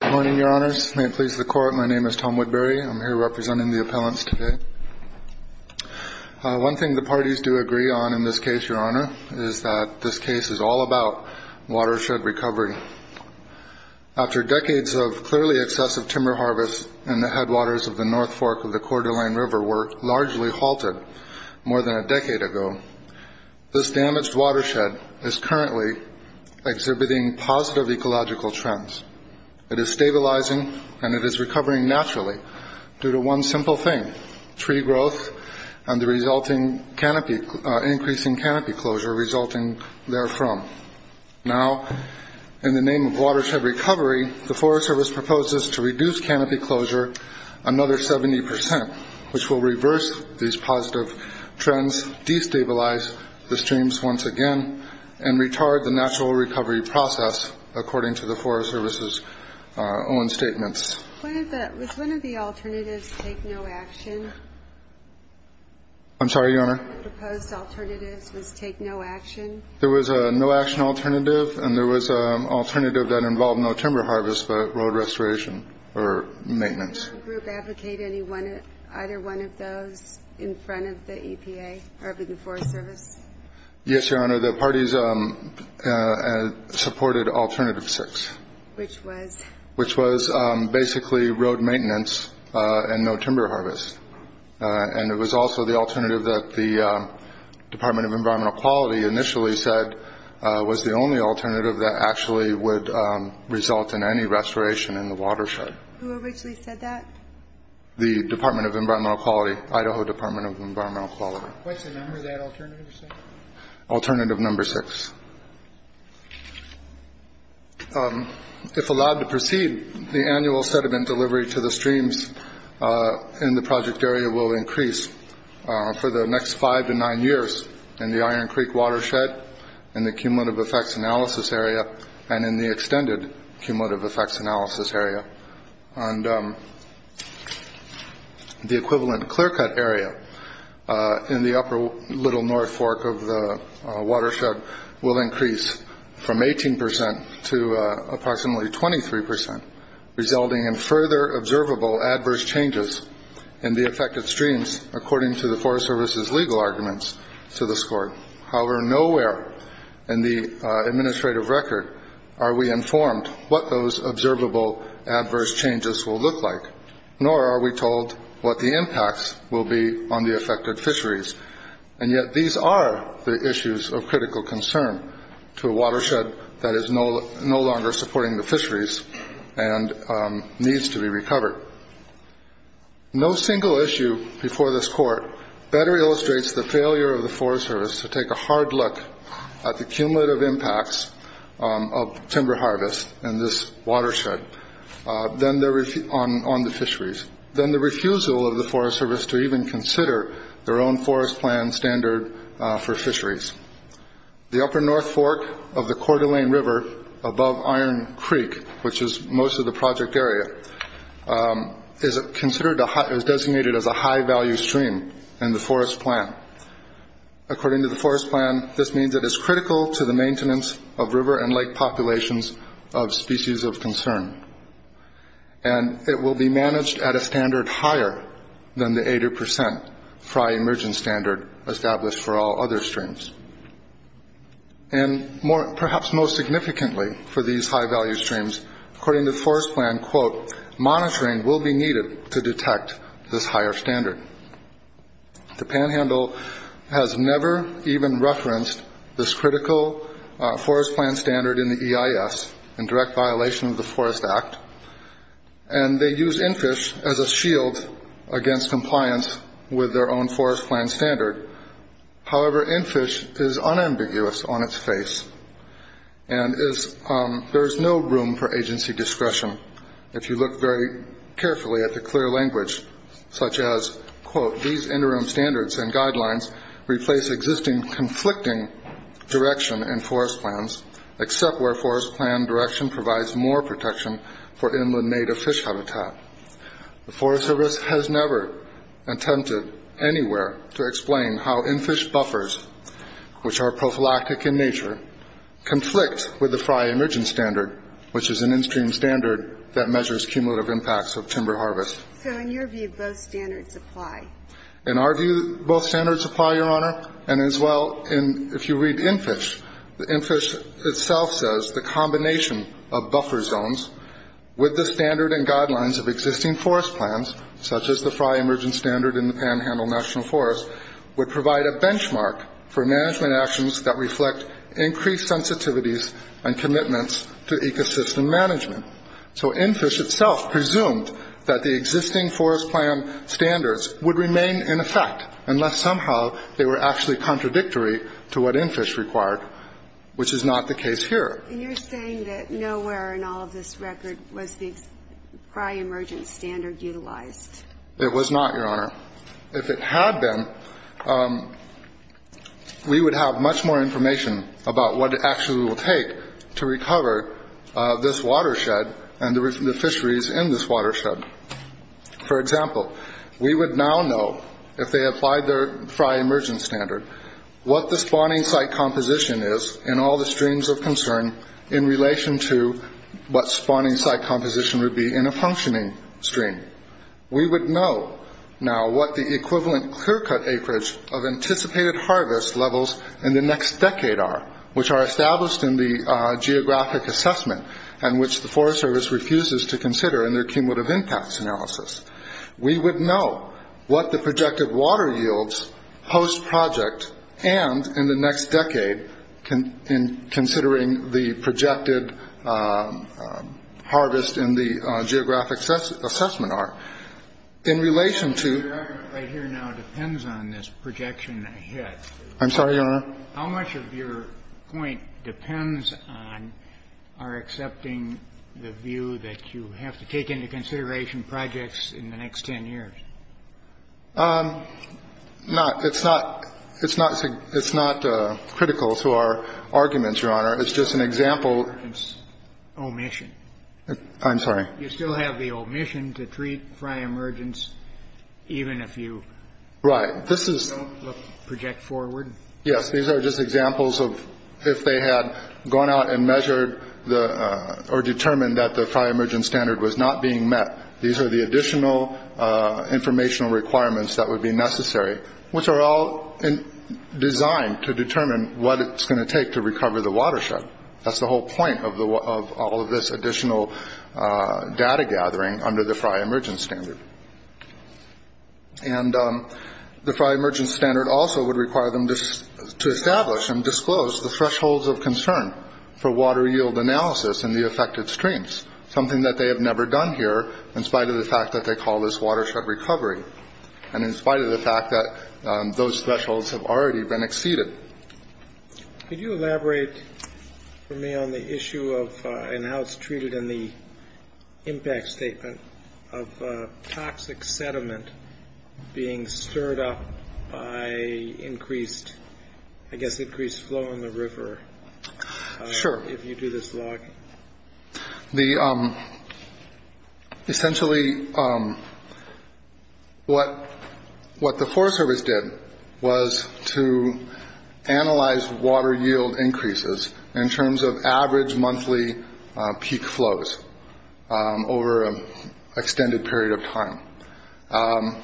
Good morning, Your Honors. May it please the Court, my name is Tom Woodbury. I'm here representing the appellants today. One thing the parties do agree on in this case, Your Honor, is that this case is all about watershed recovery. After decades of clearly excessive timber harvests in the headwaters of the North Fork of the Coeur d'Alene River were largely halted more than a decade ago, this damaged watershed is currently exhibiting positive ecological trends. It is stabilizing and it is recovering naturally due to one simple thing, tree growth and the increasing canopy closure resulting therefrom. Now, in the name of watershed recovery, the Forest Service proposes to reduce canopy closure another 70%, which will reverse these positive trends, destabilize the streams once again, and retard the natural recovery process, according to the Forest Service's own statements. Was one of the alternatives take no action? I'm sorry, Your Honor? One of the proposed alternatives was take no action? There was a no-action alternative and there was an alternative that involved no timber harvest but road restoration or maintenance. Did your group advocate either one of those in front of the EPA or the Forest Service? Yes, Your Honor. The parties supported alternative six. Which was? Which was basically road maintenance and no timber harvest. And it was also the alternative that the Department of Environmental Quality initially said was the only alternative that actually would result in any restoration in the watershed. Who originally said that? The Department of Environmental Quality, Idaho Department of Environmental Quality. What's the number of that alternative, sir? Alternative number six. If allowed to proceed, the annual sediment delivery to the streams in the project area will increase for the next five to nine years in the Iron Creek watershed, in the cumulative effects analysis area, and in the extended cumulative effects analysis area. And the equivalent clear-cut area in the upper little north fork of the watershed will increase from 18% to approximately 23%, resulting in further observable adverse changes in the affected streams, according to the Forest Service's legal arguments to the score. However, nowhere in the administrative record are we informed what those observable adverse changes will look like, nor are we told what the impacts will be on the affected fisheries. And yet these are the issues of critical concern to a watershed that is no longer supporting the fisheries and needs to be recovered. No single issue before this court better illustrates the failure of the Forest Service to take a hard look at the cumulative impacts of timber harvest in this watershed on the fisheries than the refusal of the Forest Service to even consider their own forest plan standard for fisheries. The upper north fork of the Coeur d'Alene River above Iron Creek, which is most of the project area, is designated as a high-value stream in the forest plan. According to the forest plan, this means it is critical to the maintenance of river and lake populations of species of concern. And it will be managed at a standard higher than the 80% FRI emergent standard established for all other streams. And perhaps most significantly for these high-value streams, according to the forest plan, monitoring will be needed to detect this higher standard. The Panhandle has never even referenced this critical forest plan standard in the EIS in direct violation of the Forest Act. And they use NFISH as a shield against compliance with their own forest plan standard. However, NFISH is unambiguous on its face and there is no room for agency discretion. If you look very carefully at the clear language, such as, quote, these interim standards and guidelines replace existing conflicting direction in forest plans, except where forest plan direction provides more protection for inland native fish habitat. The Forest Service has never attempted anywhere to explain how NFISH buffers, which are prophylactic in nature, conflict with the FRI emergent standard, which is an in-stream standard that measures cumulative impacts of timber harvest. So in your view, both standards apply? In our view, both standards apply, Your Honor. And as well, if you read NFISH, NFISH itself says the combination of buffer zones with the standard and guidelines of existing forest plans, such as the FRI emergent standard in the Panhandle National Forest, would provide a benchmark for management actions that reflect increased sensitivities and commitments to ecosystem management. So NFISH itself presumed that the existing forest plan standards would remain in effect, unless somehow they were actually contradictory to what NFISH required, which is not the case here. And you're saying that nowhere in all of this record was the FRI emergent standard utilized? It was not, Your Honor. If it had been, we would have much more information about what it actually will take to recover this watershed and the fisheries in this watershed. For example, we would now know, if they applied the FRI emergent standard, what the spawning site composition is in all the streams of concern in relation to what spawning site composition would be in a functioning stream. We would know now what the equivalent clear-cut acreage of anticipated harvest levels in the next decade are, which are established in the geographic assessment and which the Forest Service refuses to consider in their cumulative impacts analysis. We would know what the projected water yields post-project and in the next decade, in considering the projected harvest in the geographic assessment are. In relation to- Your argument right here now depends on this projection ahead. I'm sorry, Your Honor? How much of your point depends on our accepting the view that you have to take into consideration projects in the next 10 years? Not. It's not critical to our arguments, Your Honor. It's just an example- Omission. I'm sorry? You still have the omission to treat FRI emergence even if you- Right. This is- Don't project forward. Yes. These are just examples of if they had gone out and measured or determined that the FRI emergent standard was not being met. These are the additional informational requirements that would be necessary, which are all designed to determine what it's going to take to recover the watershed. That's the whole point of all of this additional data gathering under the FRI emergence standard. And the FRI emergence standard also would require them to establish and disclose the thresholds of concern for water yield analysis in the affected streams, something that they have never done here in spite of the fact that they call this watershed recovery and in spite of the fact that those thresholds have already been exceeded. Could you elaborate for me on the issue of- and how it's treated in the impact statement of toxic sediment being stirred up by increased- I guess increased flow in the river- Sure. If you do this log. Essentially, what the Forest Service did was to analyze water yield increases in terms of average monthly peak flows over an extended period of time.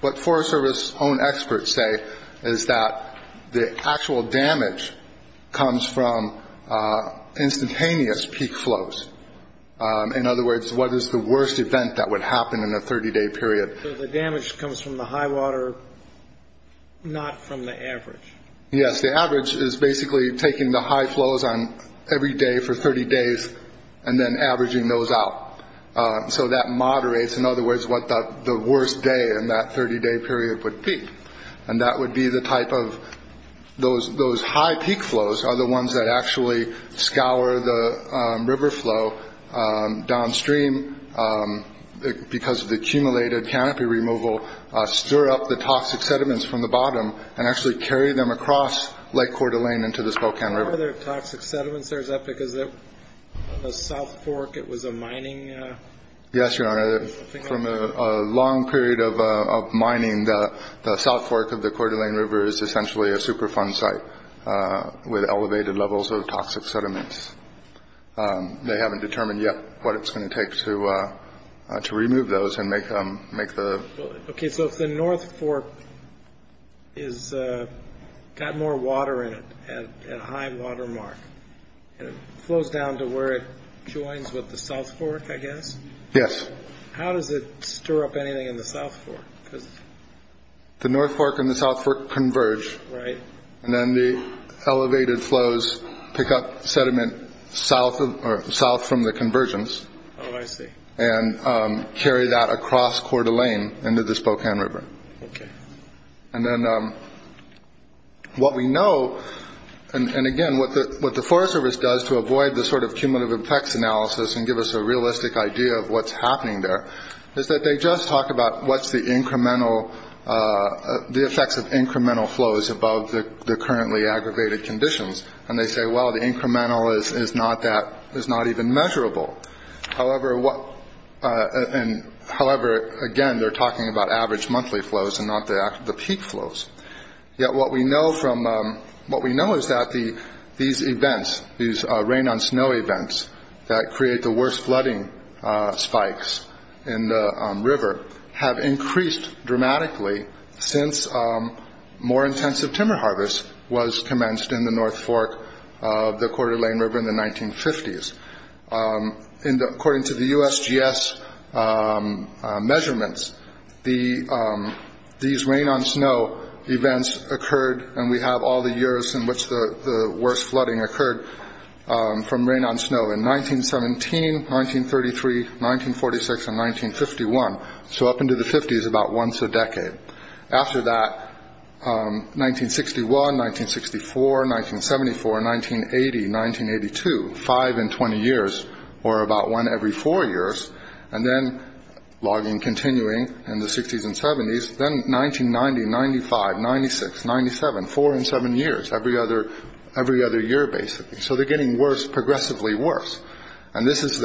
What Forest Service's own experts say is that the actual damage comes from instantaneous peak flows. In other words, what is the worst event that would happen in a 30-day period? So the damage comes from the high water, not from the average. Yes, the average is basically taking the high flows on every day for 30 days and then averaging those out. So that moderates, in other words, what the worst day in that 30-day period would be. And that would be the type of- those high peak flows are the ones that actually scour the river flow downstream because of the accumulated canopy removal, stir up the toxic sediments from the bottom and actually carry them across Lake Coeur d'Alene into the Spokane River. Why are there toxic sediments there? Is that because of the South Fork? It was a mining- Yes, Your Honor. From a long period of mining, the South Fork of the Coeur d'Alene River is essentially a Superfund site with elevated levels of toxic sediments. They haven't determined yet what it's going to take to remove those and make the- Okay, so if the North Fork has got more water in it at a high water mark and it flows down to where it joins with the South Fork, I guess? Yes. How does it stir up anything in the South Fork? The North Fork and the South Fork converge. Right. And then the elevated flows pick up sediment south from the convergence Oh, I see. and carry that across Coeur d'Alene into the Spokane River. Okay. And then what we know- and again, what the Forest Service does to avoid the sort of cumulative effects analysis and give us a realistic idea of what's happening there is that they just talk about what's the incremental- the effects of incremental flows above the currently aggravated conditions and they say, well, the incremental is not even measurable. However, again, they're talking about average monthly flows and not the peak flows. Yet what we know is that these events, these rain on snow events that create the worst flooding spikes in the river have increased dramatically since more intensive timber harvest was commenced in the North Fork of the Coeur d'Alene River in the 1950s. According to the USGS measurements, these rain on snow events occurred- and we have all the years in which the worst flooding occurred from rain on snow- in 1917, 1933, 1946, and 1951. So up into the 50s, about once a decade. After that, 1961, 1964, 1974, 1980, 1982. Five in 20 years, or about one every four years. And then, logging continuing in the 60s and 70s. Then 1990, 95, 96, 97. Four in seven years. Every other year, basically. So they're getting progressively worse. And this is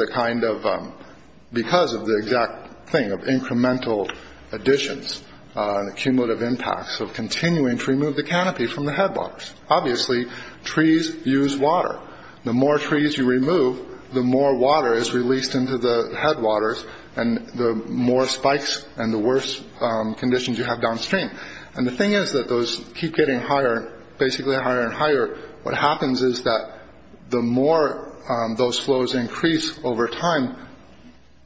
because of the exact thing of incremental additions and the cumulative impacts of continuing to remove the canopy from the headwaters. Obviously, trees use water. The more trees you remove, the more water is released into the headwaters and the more spikes and the worse conditions you have downstream. And the thing is that those keep getting higher, basically higher and higher. What happens is that the more those flows increase over time,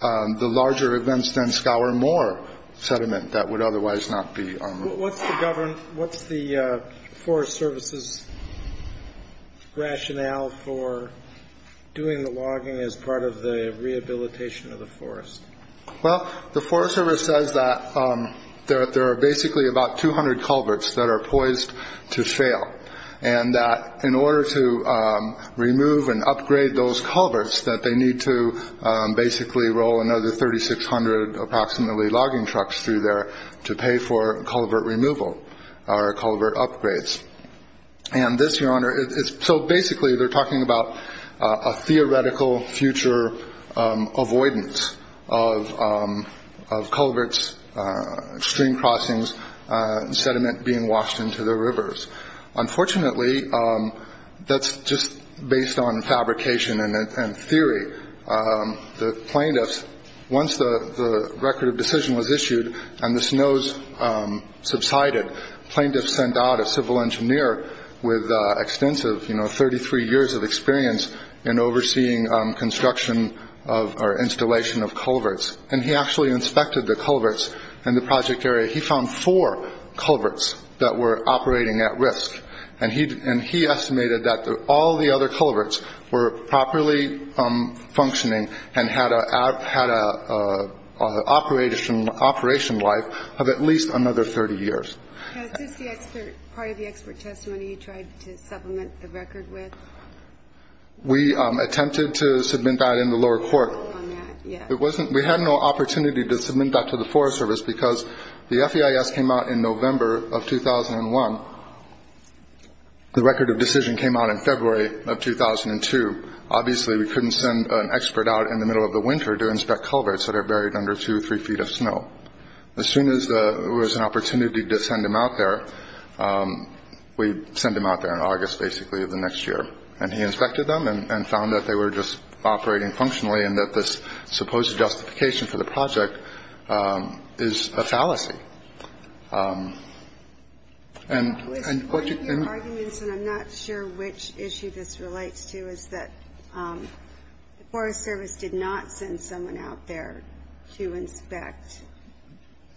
the larger events then scour more sediment that would otherwise not be unrolled. What's the Forest Service's rationale for doing the logging as part of the rehabilitation of the forest? Well, the Forest Service says that there are basically about 200 culverts that are poised to fail. And that in order to remove and upgrade those culverts, that they need to basically roll another 3,600 approximately logging trucks through there to pay for culvert removal or culvert upgrades. And this, Your Honor, is so basically they're talking about a theoretical future avoidance of culverts, stream crossings, sediment being washed into the rivers. Unfortunately, that's just based on fabrication and theory. The plaintiffs, once the record of decision was issued and the snows subsided, plaintiffs sent out a civil engineer with extensive, you know, 33 years of experience in overseeing construction or installation of culverts. And he actually inspected the culverts in the project area. He found four culverts that were operating at risk. And he estimated that all the other culverts were properly functioning and had an operation life of at least another 30 years. Was this part of the expert testimony you tried to supplement the record with? We attempted to submit that in the lower court. We had no opportunity to submit that to the Forest Service because the FEIS came out in November of 2001. The record of decision came out in February of 2002. Obviously, we couldn't send an expert out in the middle of the winter to inspect culverts that are buried under two, three feet of snow. As soon as there was an opportunity to send him out there, we sent him out there in August, basically, of the next year. And he inspected them and found that they were just operating functionally and that this supposed justification for the project is a fallacy. And what you can. And I'm not sure which issue this relates to is that the Forest Service did not send someone out there to inspect.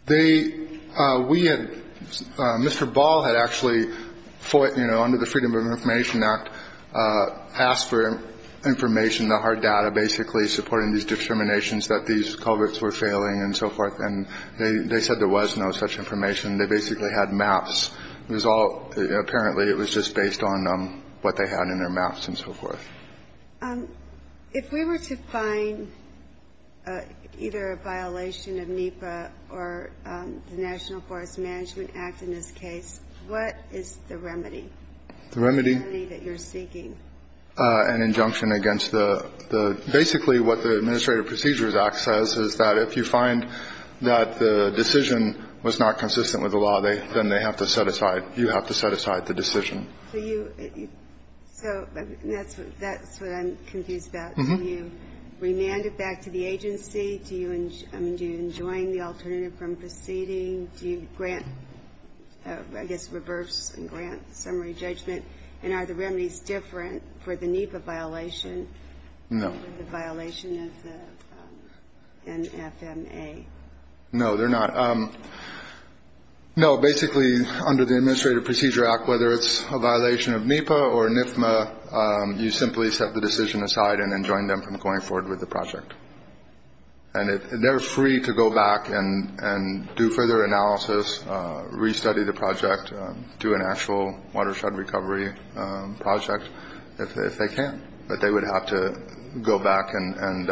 They we had Mr. Ball had actually fought, you know, under the Freedom of Information Act, asked for information that hard data basically supporting these discriminations that these culverts were failing and so forth. And they said there was no such information. They basically had maps. It was all apparently it was just based on what they had in their maps and so forth. If we were to find either a violation of NEPA or the National Forest Management Act in this case, what is the remedy? The remedy that you're seeking an injunction against the basically what the Administrative Procedures Act says is that if you find that the decision was not consistent with the law, then they have to set aside. You have to set aside the decision. So that's what I'm confused about. You remanded back to the agency. Do you enjoy the alternative from proceeding? Do you grant, I guess, reverse and grant summary judgment? And are the remedies different for the NEPA violation? No. The violation of the NFMA. No, they're not. No, basically, under the Administrative Procedure Act, whether it's a violation of NEPA or NFMA, you simply set the decision aside and then join them from going forward with the project. And they're free to go back and do further analysis, restudy the project, do an actual watershed recovery project if they can. But they would have to go back and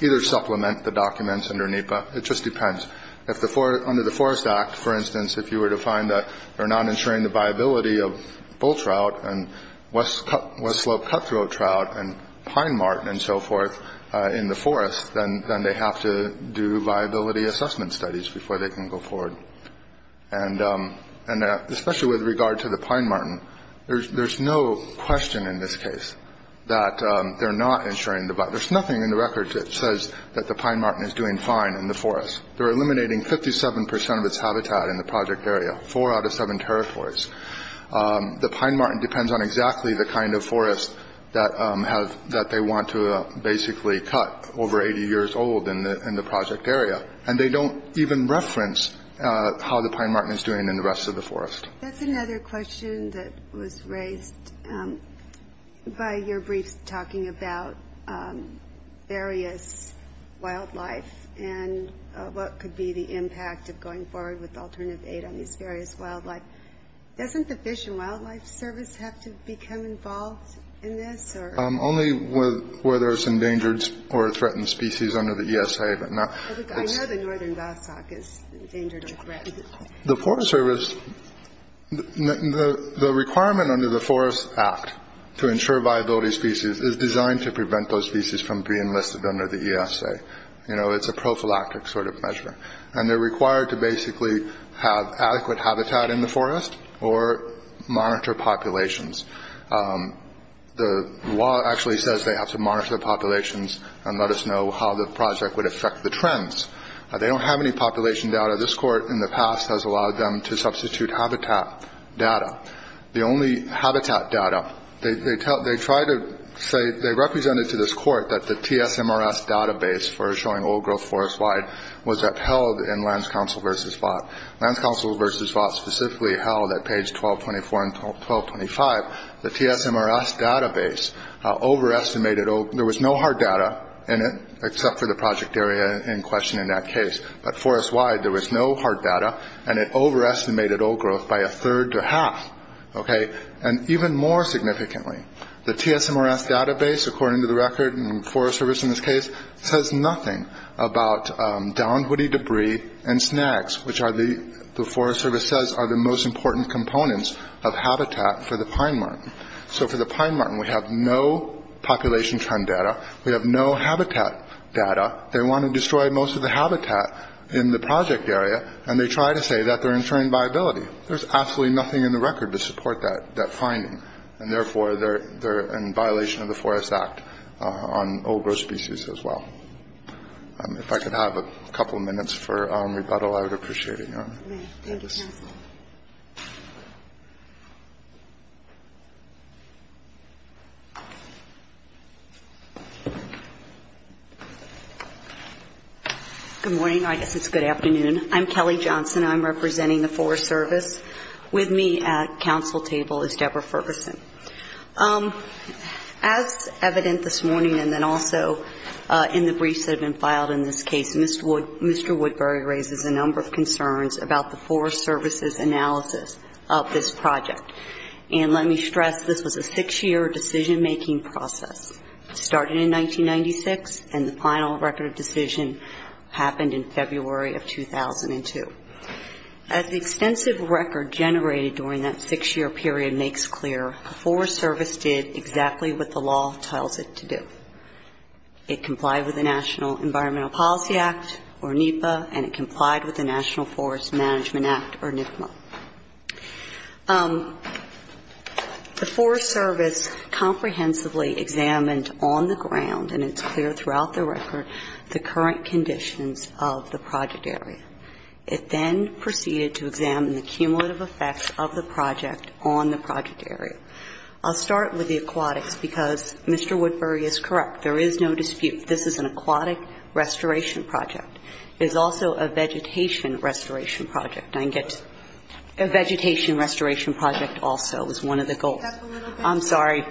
either supplement the documents underneath. But it just depends. Under the Forest Act, for instance, if you were to find that they're not ensuring the viability of bull trout and West Slope cutthroat trout and pine marten and so forth in the forest, then they have to do viability assessment studies before they can go forward. And especially with regard to the pine marten, there's no question in this case that they're not ensuring the viability. There's nothing in the record that says that the pine marten is doing fine in the forest. They're eliminating 57 percent of its habitat in the project area, four out of seven territories. The pine marten depends on exactly the kind of forest that they want to basically cut over 80 years old in the project area. And they don't even reference how the pine marten is doing in the rest of the forest. That's another question that was raised by your briefs talking about various wildlife and what could be the impact of going forward with alternative aid on these various wildlife. Doesn't the Fish and Wildlife Service have to become involved in this? Only where there's endangered or threatened species under the ESA. I know the northern bassock is endangered or threatened. The Forest Service, the requirement under the Forest Act to ensure viability species is designed to prevent those species from being listed under the ESA. You know, it's a prophylactic sort of measure. And they're required to basically have adequate habitat in the forest or monitor populations. The law actually says they have to monitor populations and let us know how the project would affect the trends. They don't have any population data. This court in the past has allowed them to substitute habitat data. The only habitat data, they try to say they represented to this court that the TSMRS database for showing old growth forest wide was upheld in Lands Council versus Vought. Lands Council versus Vought specifically held at page 1224 and 1225. The TSMRS database overestimated. There was no hard data in it except for the project area in question in that case. But forest wide, there was no hard data. And it overestimated old growth by a third to half. And even more significantly, the TSMRS database, according to the record and Forest Service in this case, says nothing about downed woody debris and snags, which the Forest Service says are the most important components of habitat for the pine marten. So for the pine marten, we have no population trend data. We have no habitat data. They want to destroy most of the habitat in the project area, and they try to say that they're ensuring viability. There's absolutely nothing in the record to support that finding, and therefore they're in violation of the Forest Act on old growth species as well. If I could have a couple of minutes for rebuttal, I would appreciate it. If I may. Thank you, counsel. Good morning. I guess it's good afternoon. I'm Kelly Johnson. I'm representing the Forest Service. With me at counsel table is Deborah Ferguson. As evident this morning and then also in the briefs that have been filed in this case, Mr. Woodbury raises a number of concerns about the Forest Service's analysis of this project. And let me stress, this was a six-year decision-making process. It started in 1996, and the final record of decision happened in February of 2002. As the extensive record generated during that six-year period makes clear, the Forest Service did exactly what the law tells it to do. It complied with the National Environmental Policy Act, or NEPA, and it complied with the National Forest Management Act, or NFMA. The Forest Service comprehensively examined on the ground, and it's clear throughout the record, the current conditions of the project area. It then proceeded to examine the cumulative effects of the project on the project area. I'll start with the aquatics, because Mr. Woodbury is correct. There is no dispute. This is an aquatic restoration project. It is also a vegetation restoration project. I get vegetation restoration project also is one of the goals. I'm sorry.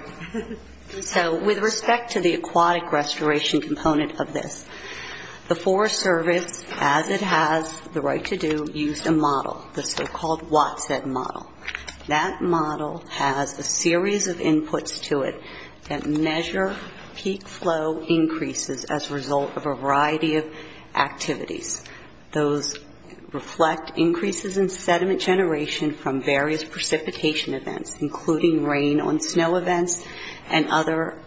So with respect to the aquatic restoration component of this, the Forest Service, as it has the right to do, used a model, the so-called Watson model. That model has a series of inputs to it that measure peak flow increases as a result of a variety of activities. Those reflect increases in sediment generation from various precipitation events, including rain on snow events and other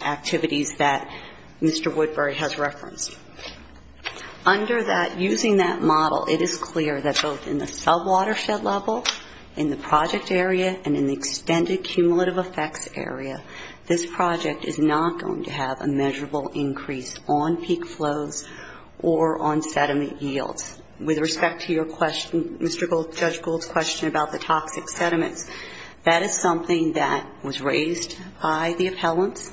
activities that Mr. Woodbury has referenced. Under that, using that model, it is clear that both in the sub-watershed level, in the project area, and in the extended cumulative effects area, this project is not going to have a measurable increase on peak flows or on sediment yields. With respect to your question, Mr. Gould, Judge Gould's question about the toxic sediments, that is something that was raised by the appellants.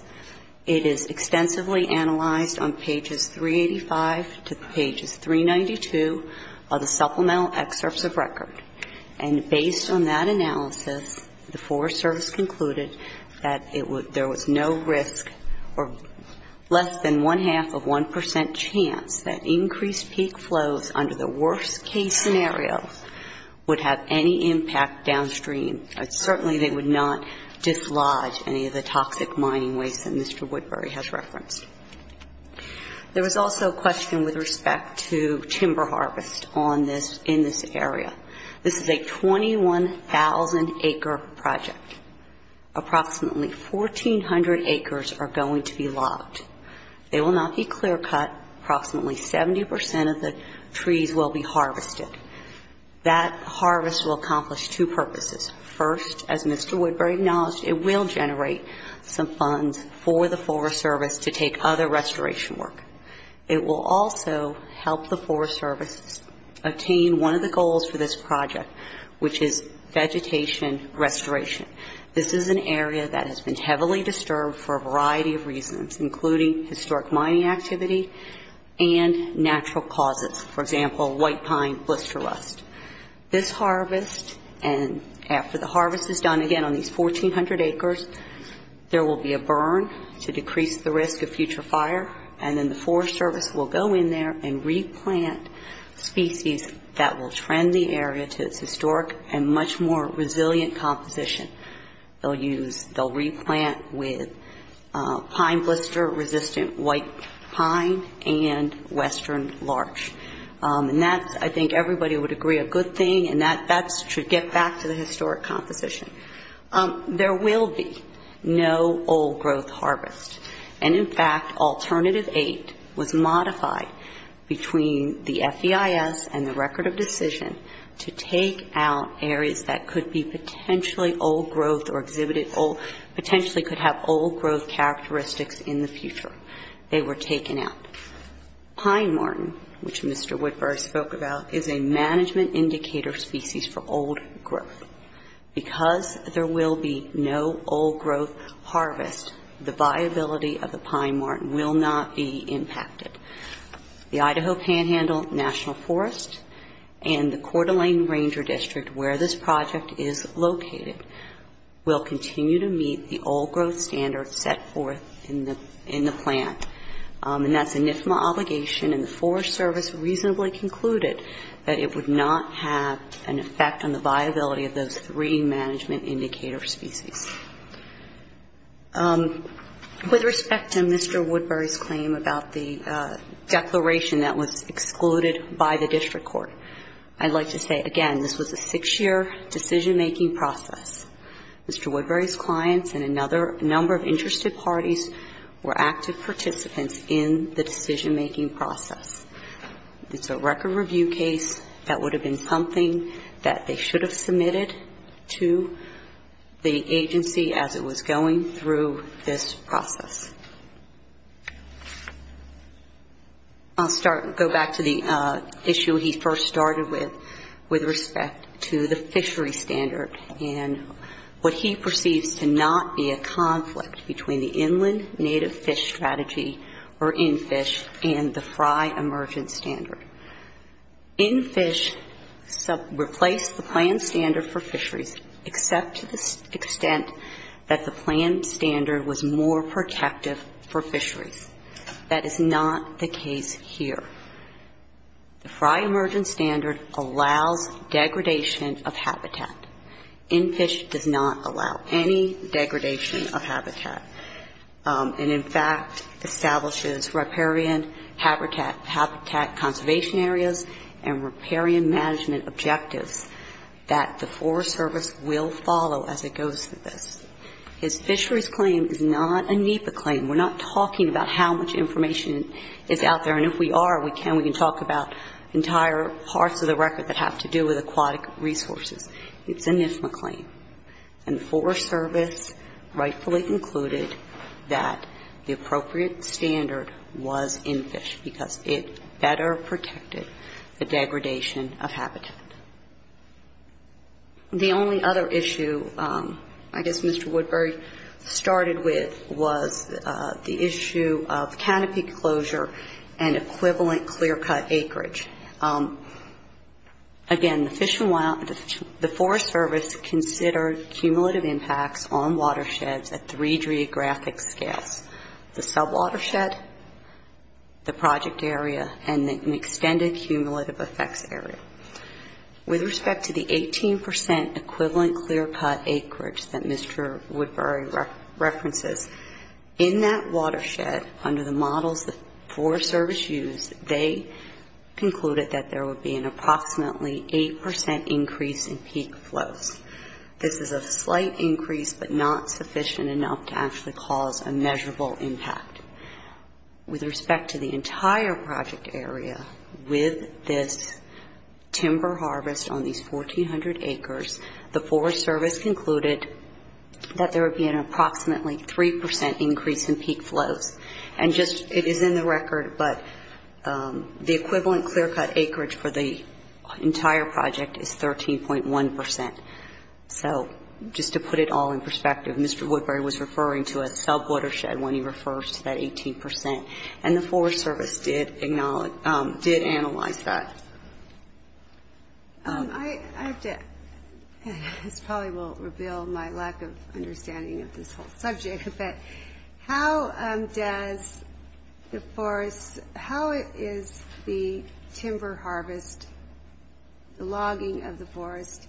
It is extensively analyzed on pages 385 to pages 392 of the supplemental excerpts of record. And based on that analysis, the Forest Service concluded that there was no risk or less than one-half of 1 percent chance that increased peak flows under the worst-case scenarios would have any impact downstream. Certainly, they would not dislodge any of the toxic mining waste that Mr. Woodbury has referenced. There was also a question with respect to timber harvest in this area. This is a 21,000-acre project. Approximately 1,400 acres are going to be logged. They will not be clear-cut. Approximately 70 percent of the trees will be harvested. That harvest will accomplish two purposes. First, as Mr. Woodbury acknowledged, it will generate some funds for the Forest Service to take other restoration work. It will also help the Forest Service attain one of the goals for this project, which is vegetation restoration. This is an area that has been heavily disturbed for a variety of reasons, including historic mining activity and natural causes, for example, white pine blister rust. This harvest, and after the harvest is done again on these 1,400 acres, there will be a burn to decrease the risk of future fire, and then the Forest Service will go in there and replant species that will trend the area to its historic and much more resilient composition. They'll replant with pine blister-resistant white pine and western larch. And that's, I think everybody would agree, a good thing, and that's to get back to the historic composition. There will be no old growth harvest. And, in fact, Alternative 8 was modified between the FEIS and the Record of Decision to take out areas that could be potentially old growth or exhibited old, potentially could have old growth characteristics in the future. They were taken out. Pine marten, which Mr. Woodbury spoke about, is a management indicator species for old growth. Because there will be no old growth harvest, the viability of the pine marten will not be impacted. The Idaho Panhandle National Forest and the Coeur d'Alene Ranger District, where this project is located, will continue to meet the old growth standards set forth in the plan. And that's an IFMA obligation, and the Forest Service reasonably concluded that it would not have an impact on the viability of those three management indicator species. With respect to Mr. Woodbury's claim about the declaration that was excluded by the district court, I'd like to say, again, this was a six-year decision-making process. Mr. Woodbury's clients and another number of interested parties were active participants in the decision-making process. It's a record review case. That would have been something that they should have submitted to the agency as it was going through this process. I'll go back to the issue he first started with, with respect to the fishery standard and what he perceives to not be a conflict between the Inland Native Fish Strategy or InFISH and the FRI emergent standard. InFISH replaced the plan standard for fisheries, except to the extent that the plan standard was more protective for fisheries. That is not the case here. The FRI emergent standard allows degradation of habitat. InFISH does not allow any degradation of habitat. And, in fact, establishes riparian habitat conservation areas and riparian management objectives that the Forest Service will follow as it goes through this. His fisheries claim is not a NEPA claim. We're not talking about how much information is out there. And if we are, we can. We can talk about entire parts of the record that have to do with aquatic resources. It's an NIFA claim. And the Forest Service rightfully concluded that the appropriate standard was InFISH because it better protected the degradation of habitat. The only other issue I guess Mr. Woodbury started with was the issue of canopy closure and equivalent clear-cut acreage. Again, the Forest Service considered cumulative impacts on watersheds at three geographic scales, the sub-watershed, the project area, and the extended cumulative effects area. With respect to the 18% equivalent clear-cut acreage that Mr. Woodbury references, in that watershed, under the models the Forest Service used, they concluded that there would be an approximately 8% increase in peak flows. This is a slight increase but not sufficient enough to actually cause a measurable impact. With respect to the entire project area, with this timber harvest on these 1,400 acres, the Forest Service concluded that there would be an approximately 3% increase in peak flows. And just, it is in the record, but the equivalent clear-cut acreage for the entire project is 13.1%. So just to put it all in perspective, Mr. Woodbury was referring to a sub-watershed when he refers to that 18%. And the Forest Service did analyze that. I have to, this probably will reveal my lack of understanding of this whole subject, but how does the forest, how is the timber harvest, the logging of the forest,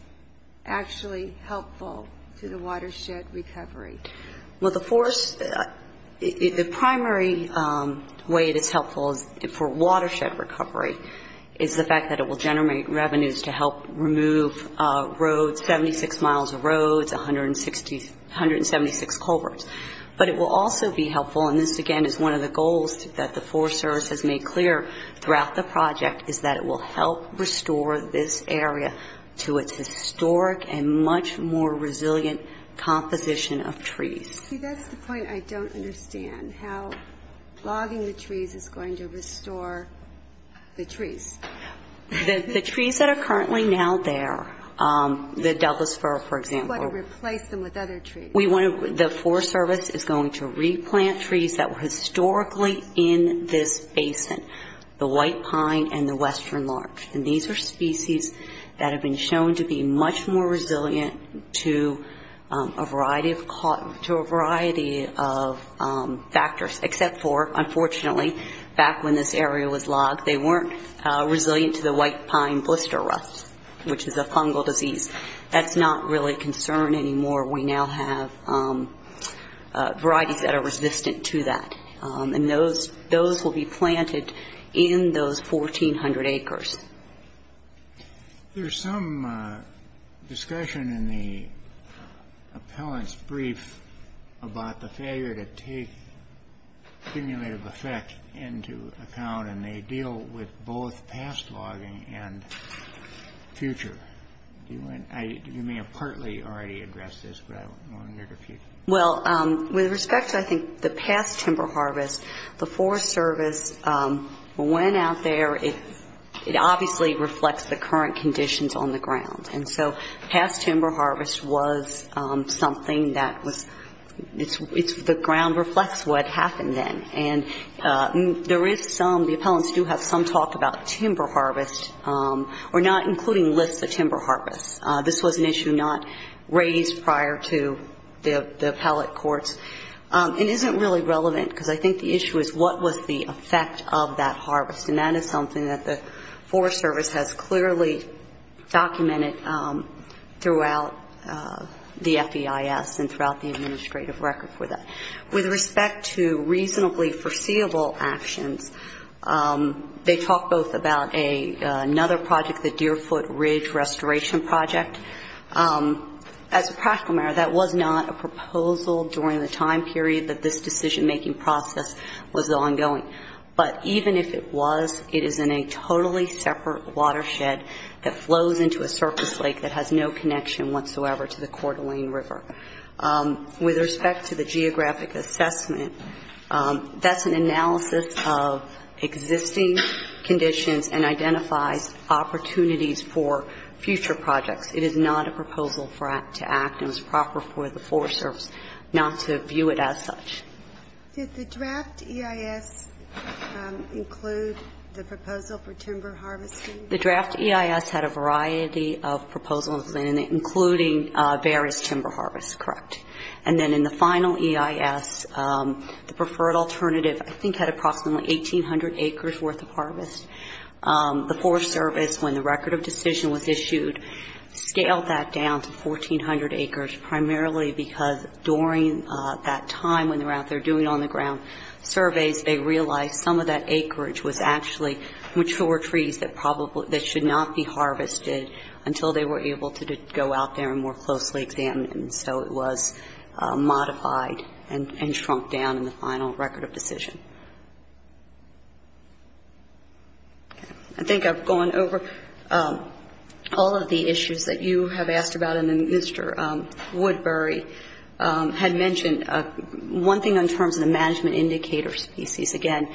actually helpful to the watershed recovery? Well, the forest, the primary way it is helpful for watershed recovery is the fact that it will generate revenues to help remove roads, 76 miles of roads, 176 culverts. But it will also be helpful, and this again is one of the goals that the Forest Service has made clear throughout the project, is that it will help restore this area to its historic and much more resilient composition of trees. See, that's the point I don't understand, how logging the trees is going to restore the trees. The trees that are currently now there, the Delphosphora, for example. It's going to replace them with other trees. We want to, the Forest Service is going to replant trees that were historically in this basin, the White Pine and the Western Larch. And these are species that have been shown to be much more resilient to a variety of factors, except for, unfortunately, back when this area was logged, they weren't resilient to the White Pine blister rust, which is a fungal disease. That's not really a concern anymore. We now have varieties that are resistant to that. And those will be planted in those 1,400 acres. There's some discussion in the appellant's brief about the failure to take stimulative effect into account, and they deal with both past logging and future. You may have partly already addressed this, but I wondered if you could. Well, with respect to, I think, the past timber harvest, the Forest Service went out there. It obviously reflects the current conditions on the ground. And so past timber harvest was something that was, the ground reflects what happened then. And there is some, the appellants do have some talk about timber harvest, or not including lists of timber harvest. This was an issue not raised prior to the appellate courts. It isn't really relevant, because I think the issue is what was the effect of that harvest. And that is something that the Forest Service has clearly documented throughout the FEIS and throughout the administrative record for that. With respect to reasonably foreseeable actions, they talk both about another project, the Deerfoot Ridge Restoration Project. As a practical matter, that was not a proposal during the time period that this decision-making process was ongoing. But even if it was, it is in a totally separate watershed that flows into a surface lake that has no connection whatsoever to the Coeur d'Alene River. With respect to the geographic assessment, that's an analysis of existing conditions and identifies opportunities for future projects. It is not a proposal to act. It was proper for the Forest Service not to view it as such. Did the draft EIS include the proposal for timber harvesting? The draft EIS had a variety of proposals in it, including various timber harvests, correct. And then in the final EIS, the preferred alternative I think had approximately 1,800 acres worth of harvest. The Forest Service, when the record of decision was issued, scaled that down to 1,400 acres, primarily because during that time when they were out there doing on-the-ground surveys, they realized some of that acreage was actually mature trees that should not be harvested until they were able to go out there and more closely examine them. So it was modified and shrunk down in the final record of decision. I think I've gone over all of the issues that you have asked about, and then Mr. Woodbury had mentioned one thing in terms of the management indicator species. Again,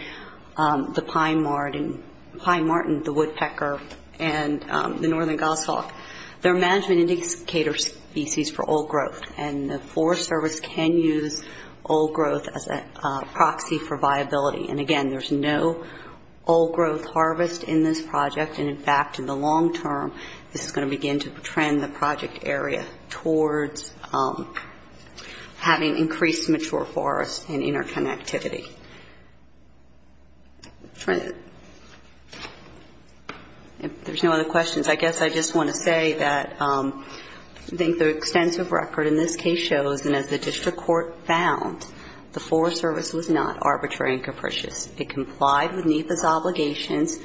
the pine martin, the woodpecker, and the northern goshawk, they're management indicator species for old growth, and the Forest Service can use old growth as a proxy for viability. And again, there's no old growth harvest in this project, and, in fact, in the long term, this is going to begin to trend the project area towards having increased mature forest and interconnectivity. If there's no other questions, I guess I just want to say that I think the extensive record in this case shows, and as the district court found, the Forest Service was not arbitrary and capricious. It complied with NEPA's obligations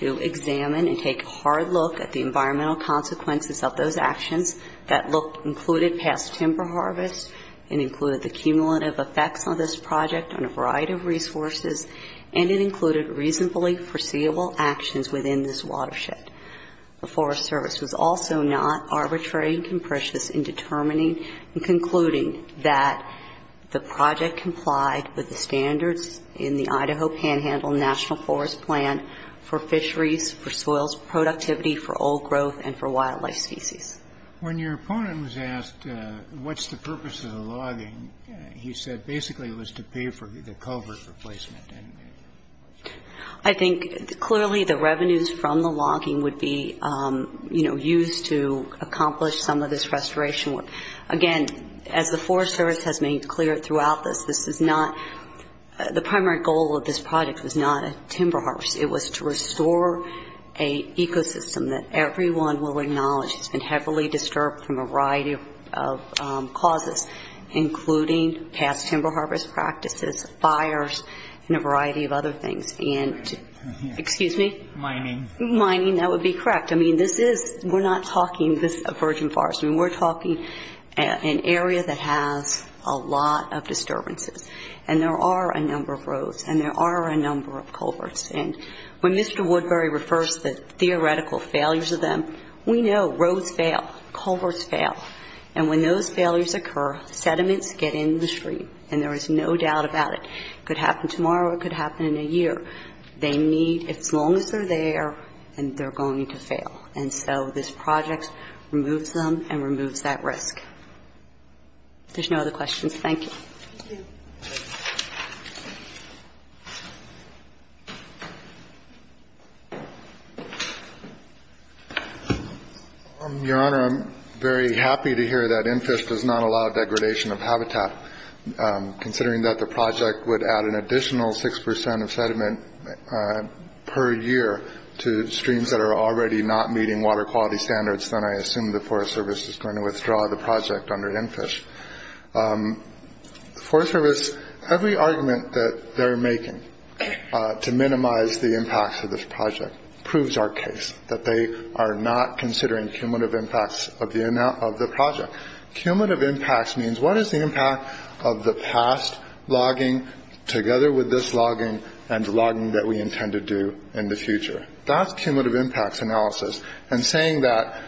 to examine and take a hard look at the environmental consequences of those actions that included past timber harvest and included the cumulative effects on this project on a variety of resources, and it included reasonably foreseeable actions within this watershed. The Forest Service was also not arbitrary and capricious in determining and concluding that the project complied with the standards in the Idaho Panhandle National Forest Plan for fisheries, for soils productivity, for old growth, and for wildlife species. When your opponent was asked what's the purpose of the logging, he said basically it was to pay for the culvert replacement. I think clearly the revenues from the logging would be used to accomplish some of this restoration work. Again, as the Forest Service has made clear throughout this, the primary goal of this project was not a timber harvest. It was to restore an ecosystem that everyone will acknowledge has been heavily disturbed from a variety of causes, including past timber harvest practices, fires, and a variety of other things. And, excuse me? Mining. Mining, that would be correct. I mean, this is we're not talking a virgin forest. I mean, we're talking an area that has a lot of disturbances, and there are a number of roads, and there are a number of culverts. And when Mr. Woodbury refers to the theoretical failures of them, we know roads fail, culverts fail. And when those failures occur, sediments get in the stream, and there is no doubt about it. It could happen tomorrow. It could happen in a year. They need, as long as they're there, and they're going to fail. And so this project removes them and removes that risk. If there's no other questions, thank you. Thank you. Your Honor, I'm very happy to hear that NFISH does not allow degradation of habitat. Considering that the project would add an additional 6 percent of sediment per year to streams that are already not meeting water quality standards, then I assume the Forest Service is going to withdraw the project under NFISH. The Forest Service, every argument that they're making to minimize the impacts of this project proves our case, that they are not considering cumulative impacts of the project. Cumulative impacts means what is the impact of the past logging together with this logging and logging that we intend to do in the future? That's cumulative impacts analysis. And saying that,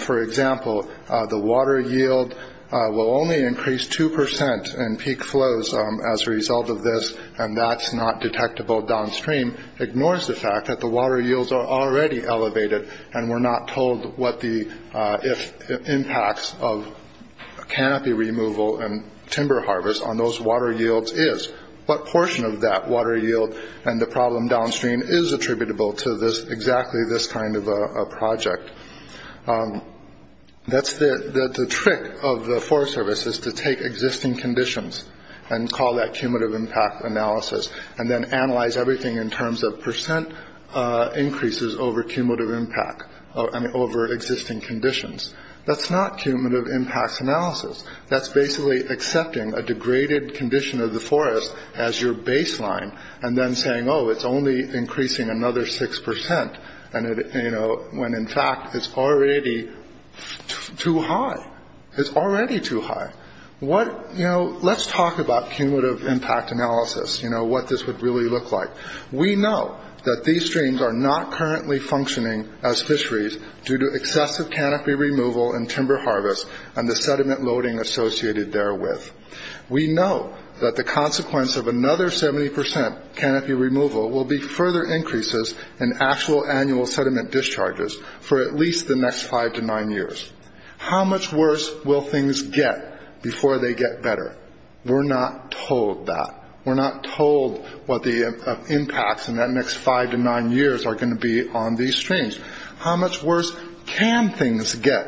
for example, the water yield will only increase 2 percent in peak flows as a result of this, and that's not detectable downstream ignores the fact that the water yields are already elevated, and we're not told what the impacts of canopy removal and timber harvest on those water yields is, what portion of that water yield and the problem downstream is attributable to exactly this kind of a project. The trick of the Forest Service is to take existing conditions and call that cumulative impact analysis, and then analyze everything in terms of percent increases over cumulative impact and over existing conditions. That's not cumulative impacts analysis. That's basically accepting a degraded condition of the forest as your baseline, and then saying, oh, it's only increasing another 6 percent, when in fact it's already too high. It's already too high. Let's talk about cumulative impact analysis, what this would really look like. We know that these streams are not currently functioning as fisheries due to excessive canopy removal and timber harvest, and the sediment loading associated therewith. We know that the consequence of another 70 percent canopy removal will be further increases in actual annual sediment discharges for at least the next 5 to 9 years. How much worse will things get before they get better? We're not told that. We're not told what the impacts in that next 5 to 9 years are going to be on these streams. How much worse can things get,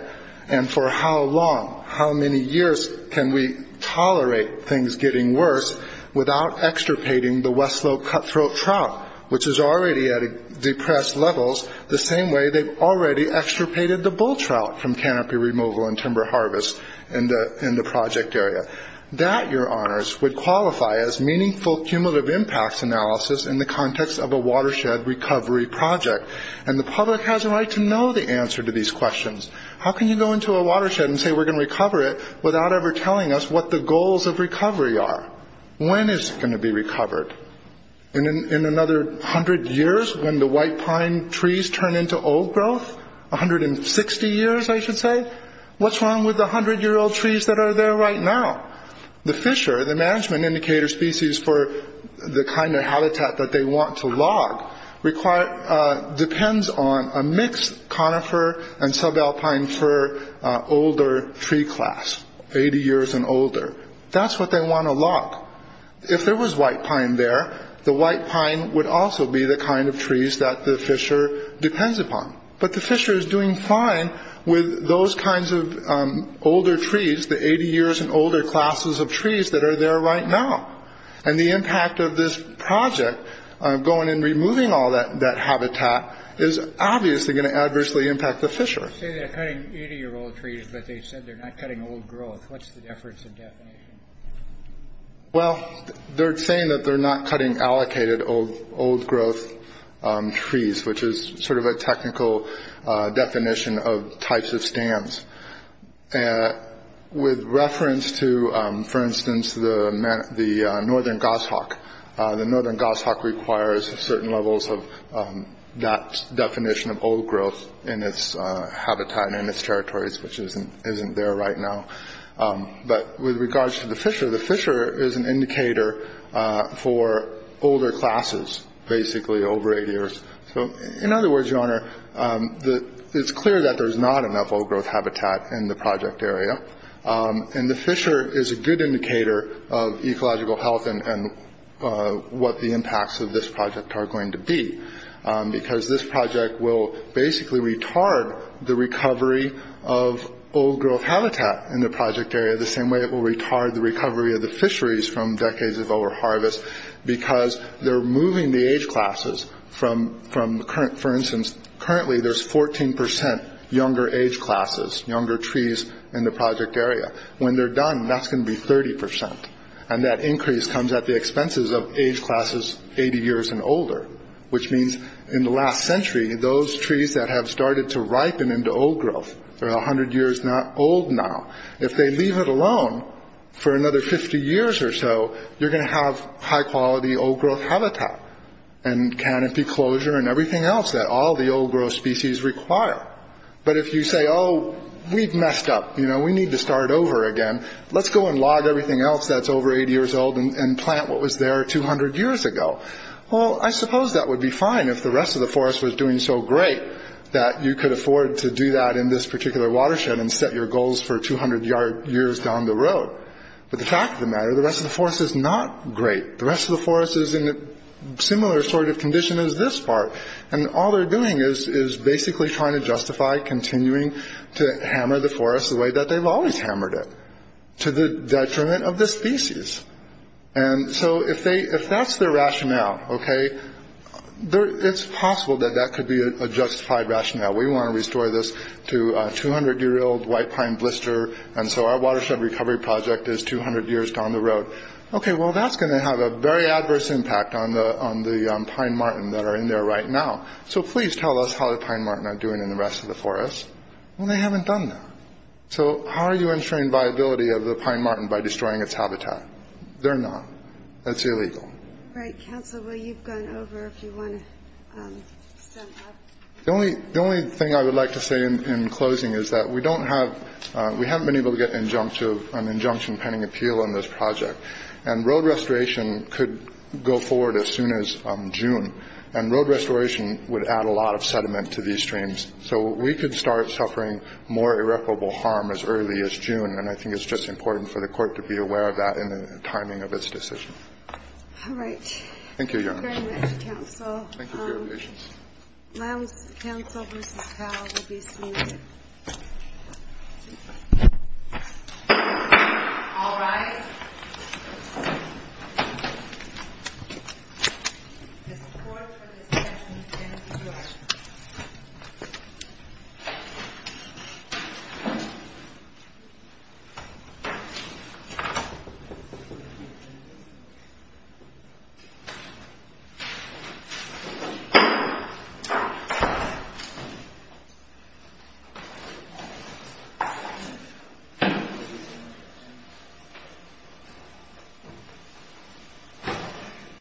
and for how long, how many years, can we tolerate things getting worse without extirpating the West Slope cutthroat trout, which is already at depressed levels, the same way they've already extirpated the bull trout from canopy removal and timber harvest in the project area. That, your honors, would qualify as meaningful cumulative impacts analysis in the context of a watershed recovery project. The public has a right to know the answer to these questions. How can you go into a watershed and say, we're going to recover it without ever telling us what the goals of recovery are? When is it going to be recovered? In another 100 years when the white pine trees turn into old growth? 160 years, I should say? What's wrong with the 100-year-old trees that are there right now? The fisher, the management indicator species for the kind of habitat that they want to log, depends on a mixed conifer and subalpine fir older tree class, 80 years and older. That's what they want to log. If there was white pine there, the white pine would also be the kind of trees that the fisher depends upon. But the fisher is doing fine with those kinds of older trees, the 80 years and older classes of trees that are there right now. And the impact of this project, going and removing all that habitat, is obviously going to adversely impact the fisher. You say they're cutting 80-year-old trees, but they said they're not cutting old growth. What's the difference in definition? Well, they're saying that they're not cutting allocated old growth trees, which is sort of a technical definition of types of stands. With reference to, for instance, the northern goshawk. The northern goshawk requires certain levels of that definition of old growth in its habitat and in its territories, which isn't there right now. But with regards to the fisher, the fisher is an indicator for older classes, basically over 80 years. So, in other words, Your Honor, it's clear that there's not enough old growth habitat in the project area, and the fisher is a good indicator of ecological health and what the impacts of this project are going to be, because this project will basically retard the recovery of old growth habitat in the project area the same way it will retard the recovery of the fisheries from decades of overharvest, because they're moving the age classes from, for instance, currently there's 14 percent younger age classes, younger trees in the project area. When they're done, that's going to be 30 percent, and that increase comes at the expenses of age classes 80 years and older, which means in the last century, those trees that have started to ripen into old growth are 100 years old now. If they leave it alone for another 50 years or so, you're going to have high-quality old growth habitat and canopy closure and everything else that all the old growth species require. But if you say, oh, we've messed up, you know, we need to start over again, let's go and log everything else that's over 80 years old and plant what was there 200 years ago. Well, I suppose that would be fine if the rest of the forest was doing so great that you could afford to do that in this particular watershed and set your goals for 200 years down the road. But the fact of the matter, the rest of the forest is not great. The rest of the forest is in a similar sort of condition as this part, and all they're doing is basically trying to justify continuing to hammer the forest the way that they've always hammered it, to the detriment of the species. And so if that's their rationale, okay, it's possible that that could be a justified rationale. We want to restore this to a 200-year-old white pine blister, and so our watershed recovery project is 200 years down the road. Okay, well, that's going to have a very adverse impact on the pine marten that are in there right now. So please tell us how the pine marten are doing in the rest of the forest. Well, they haven't done that. So how are you ensuring viability of the pine marten by destroying its habitat? They're not. That's illegal. Right. Counsel, you've gone over if you want to step up. The only thing I would like to say in closing is that we haven't been able to get an injunction pending appeal on this project, and road restoration could go forward as soon as June, and road restoration would add a lot of sediment to these streams, so we could start suffering more irreparable harm as early as June, and I think it's just important for the Court to be aware of that in the timing of its decision. All right. Thank you, Your Honor. Thank you very much, Counsel. Thank you for your patience. Counsel versus Powell will be seated. All rise. The court for this session stands adjourned. adjourned.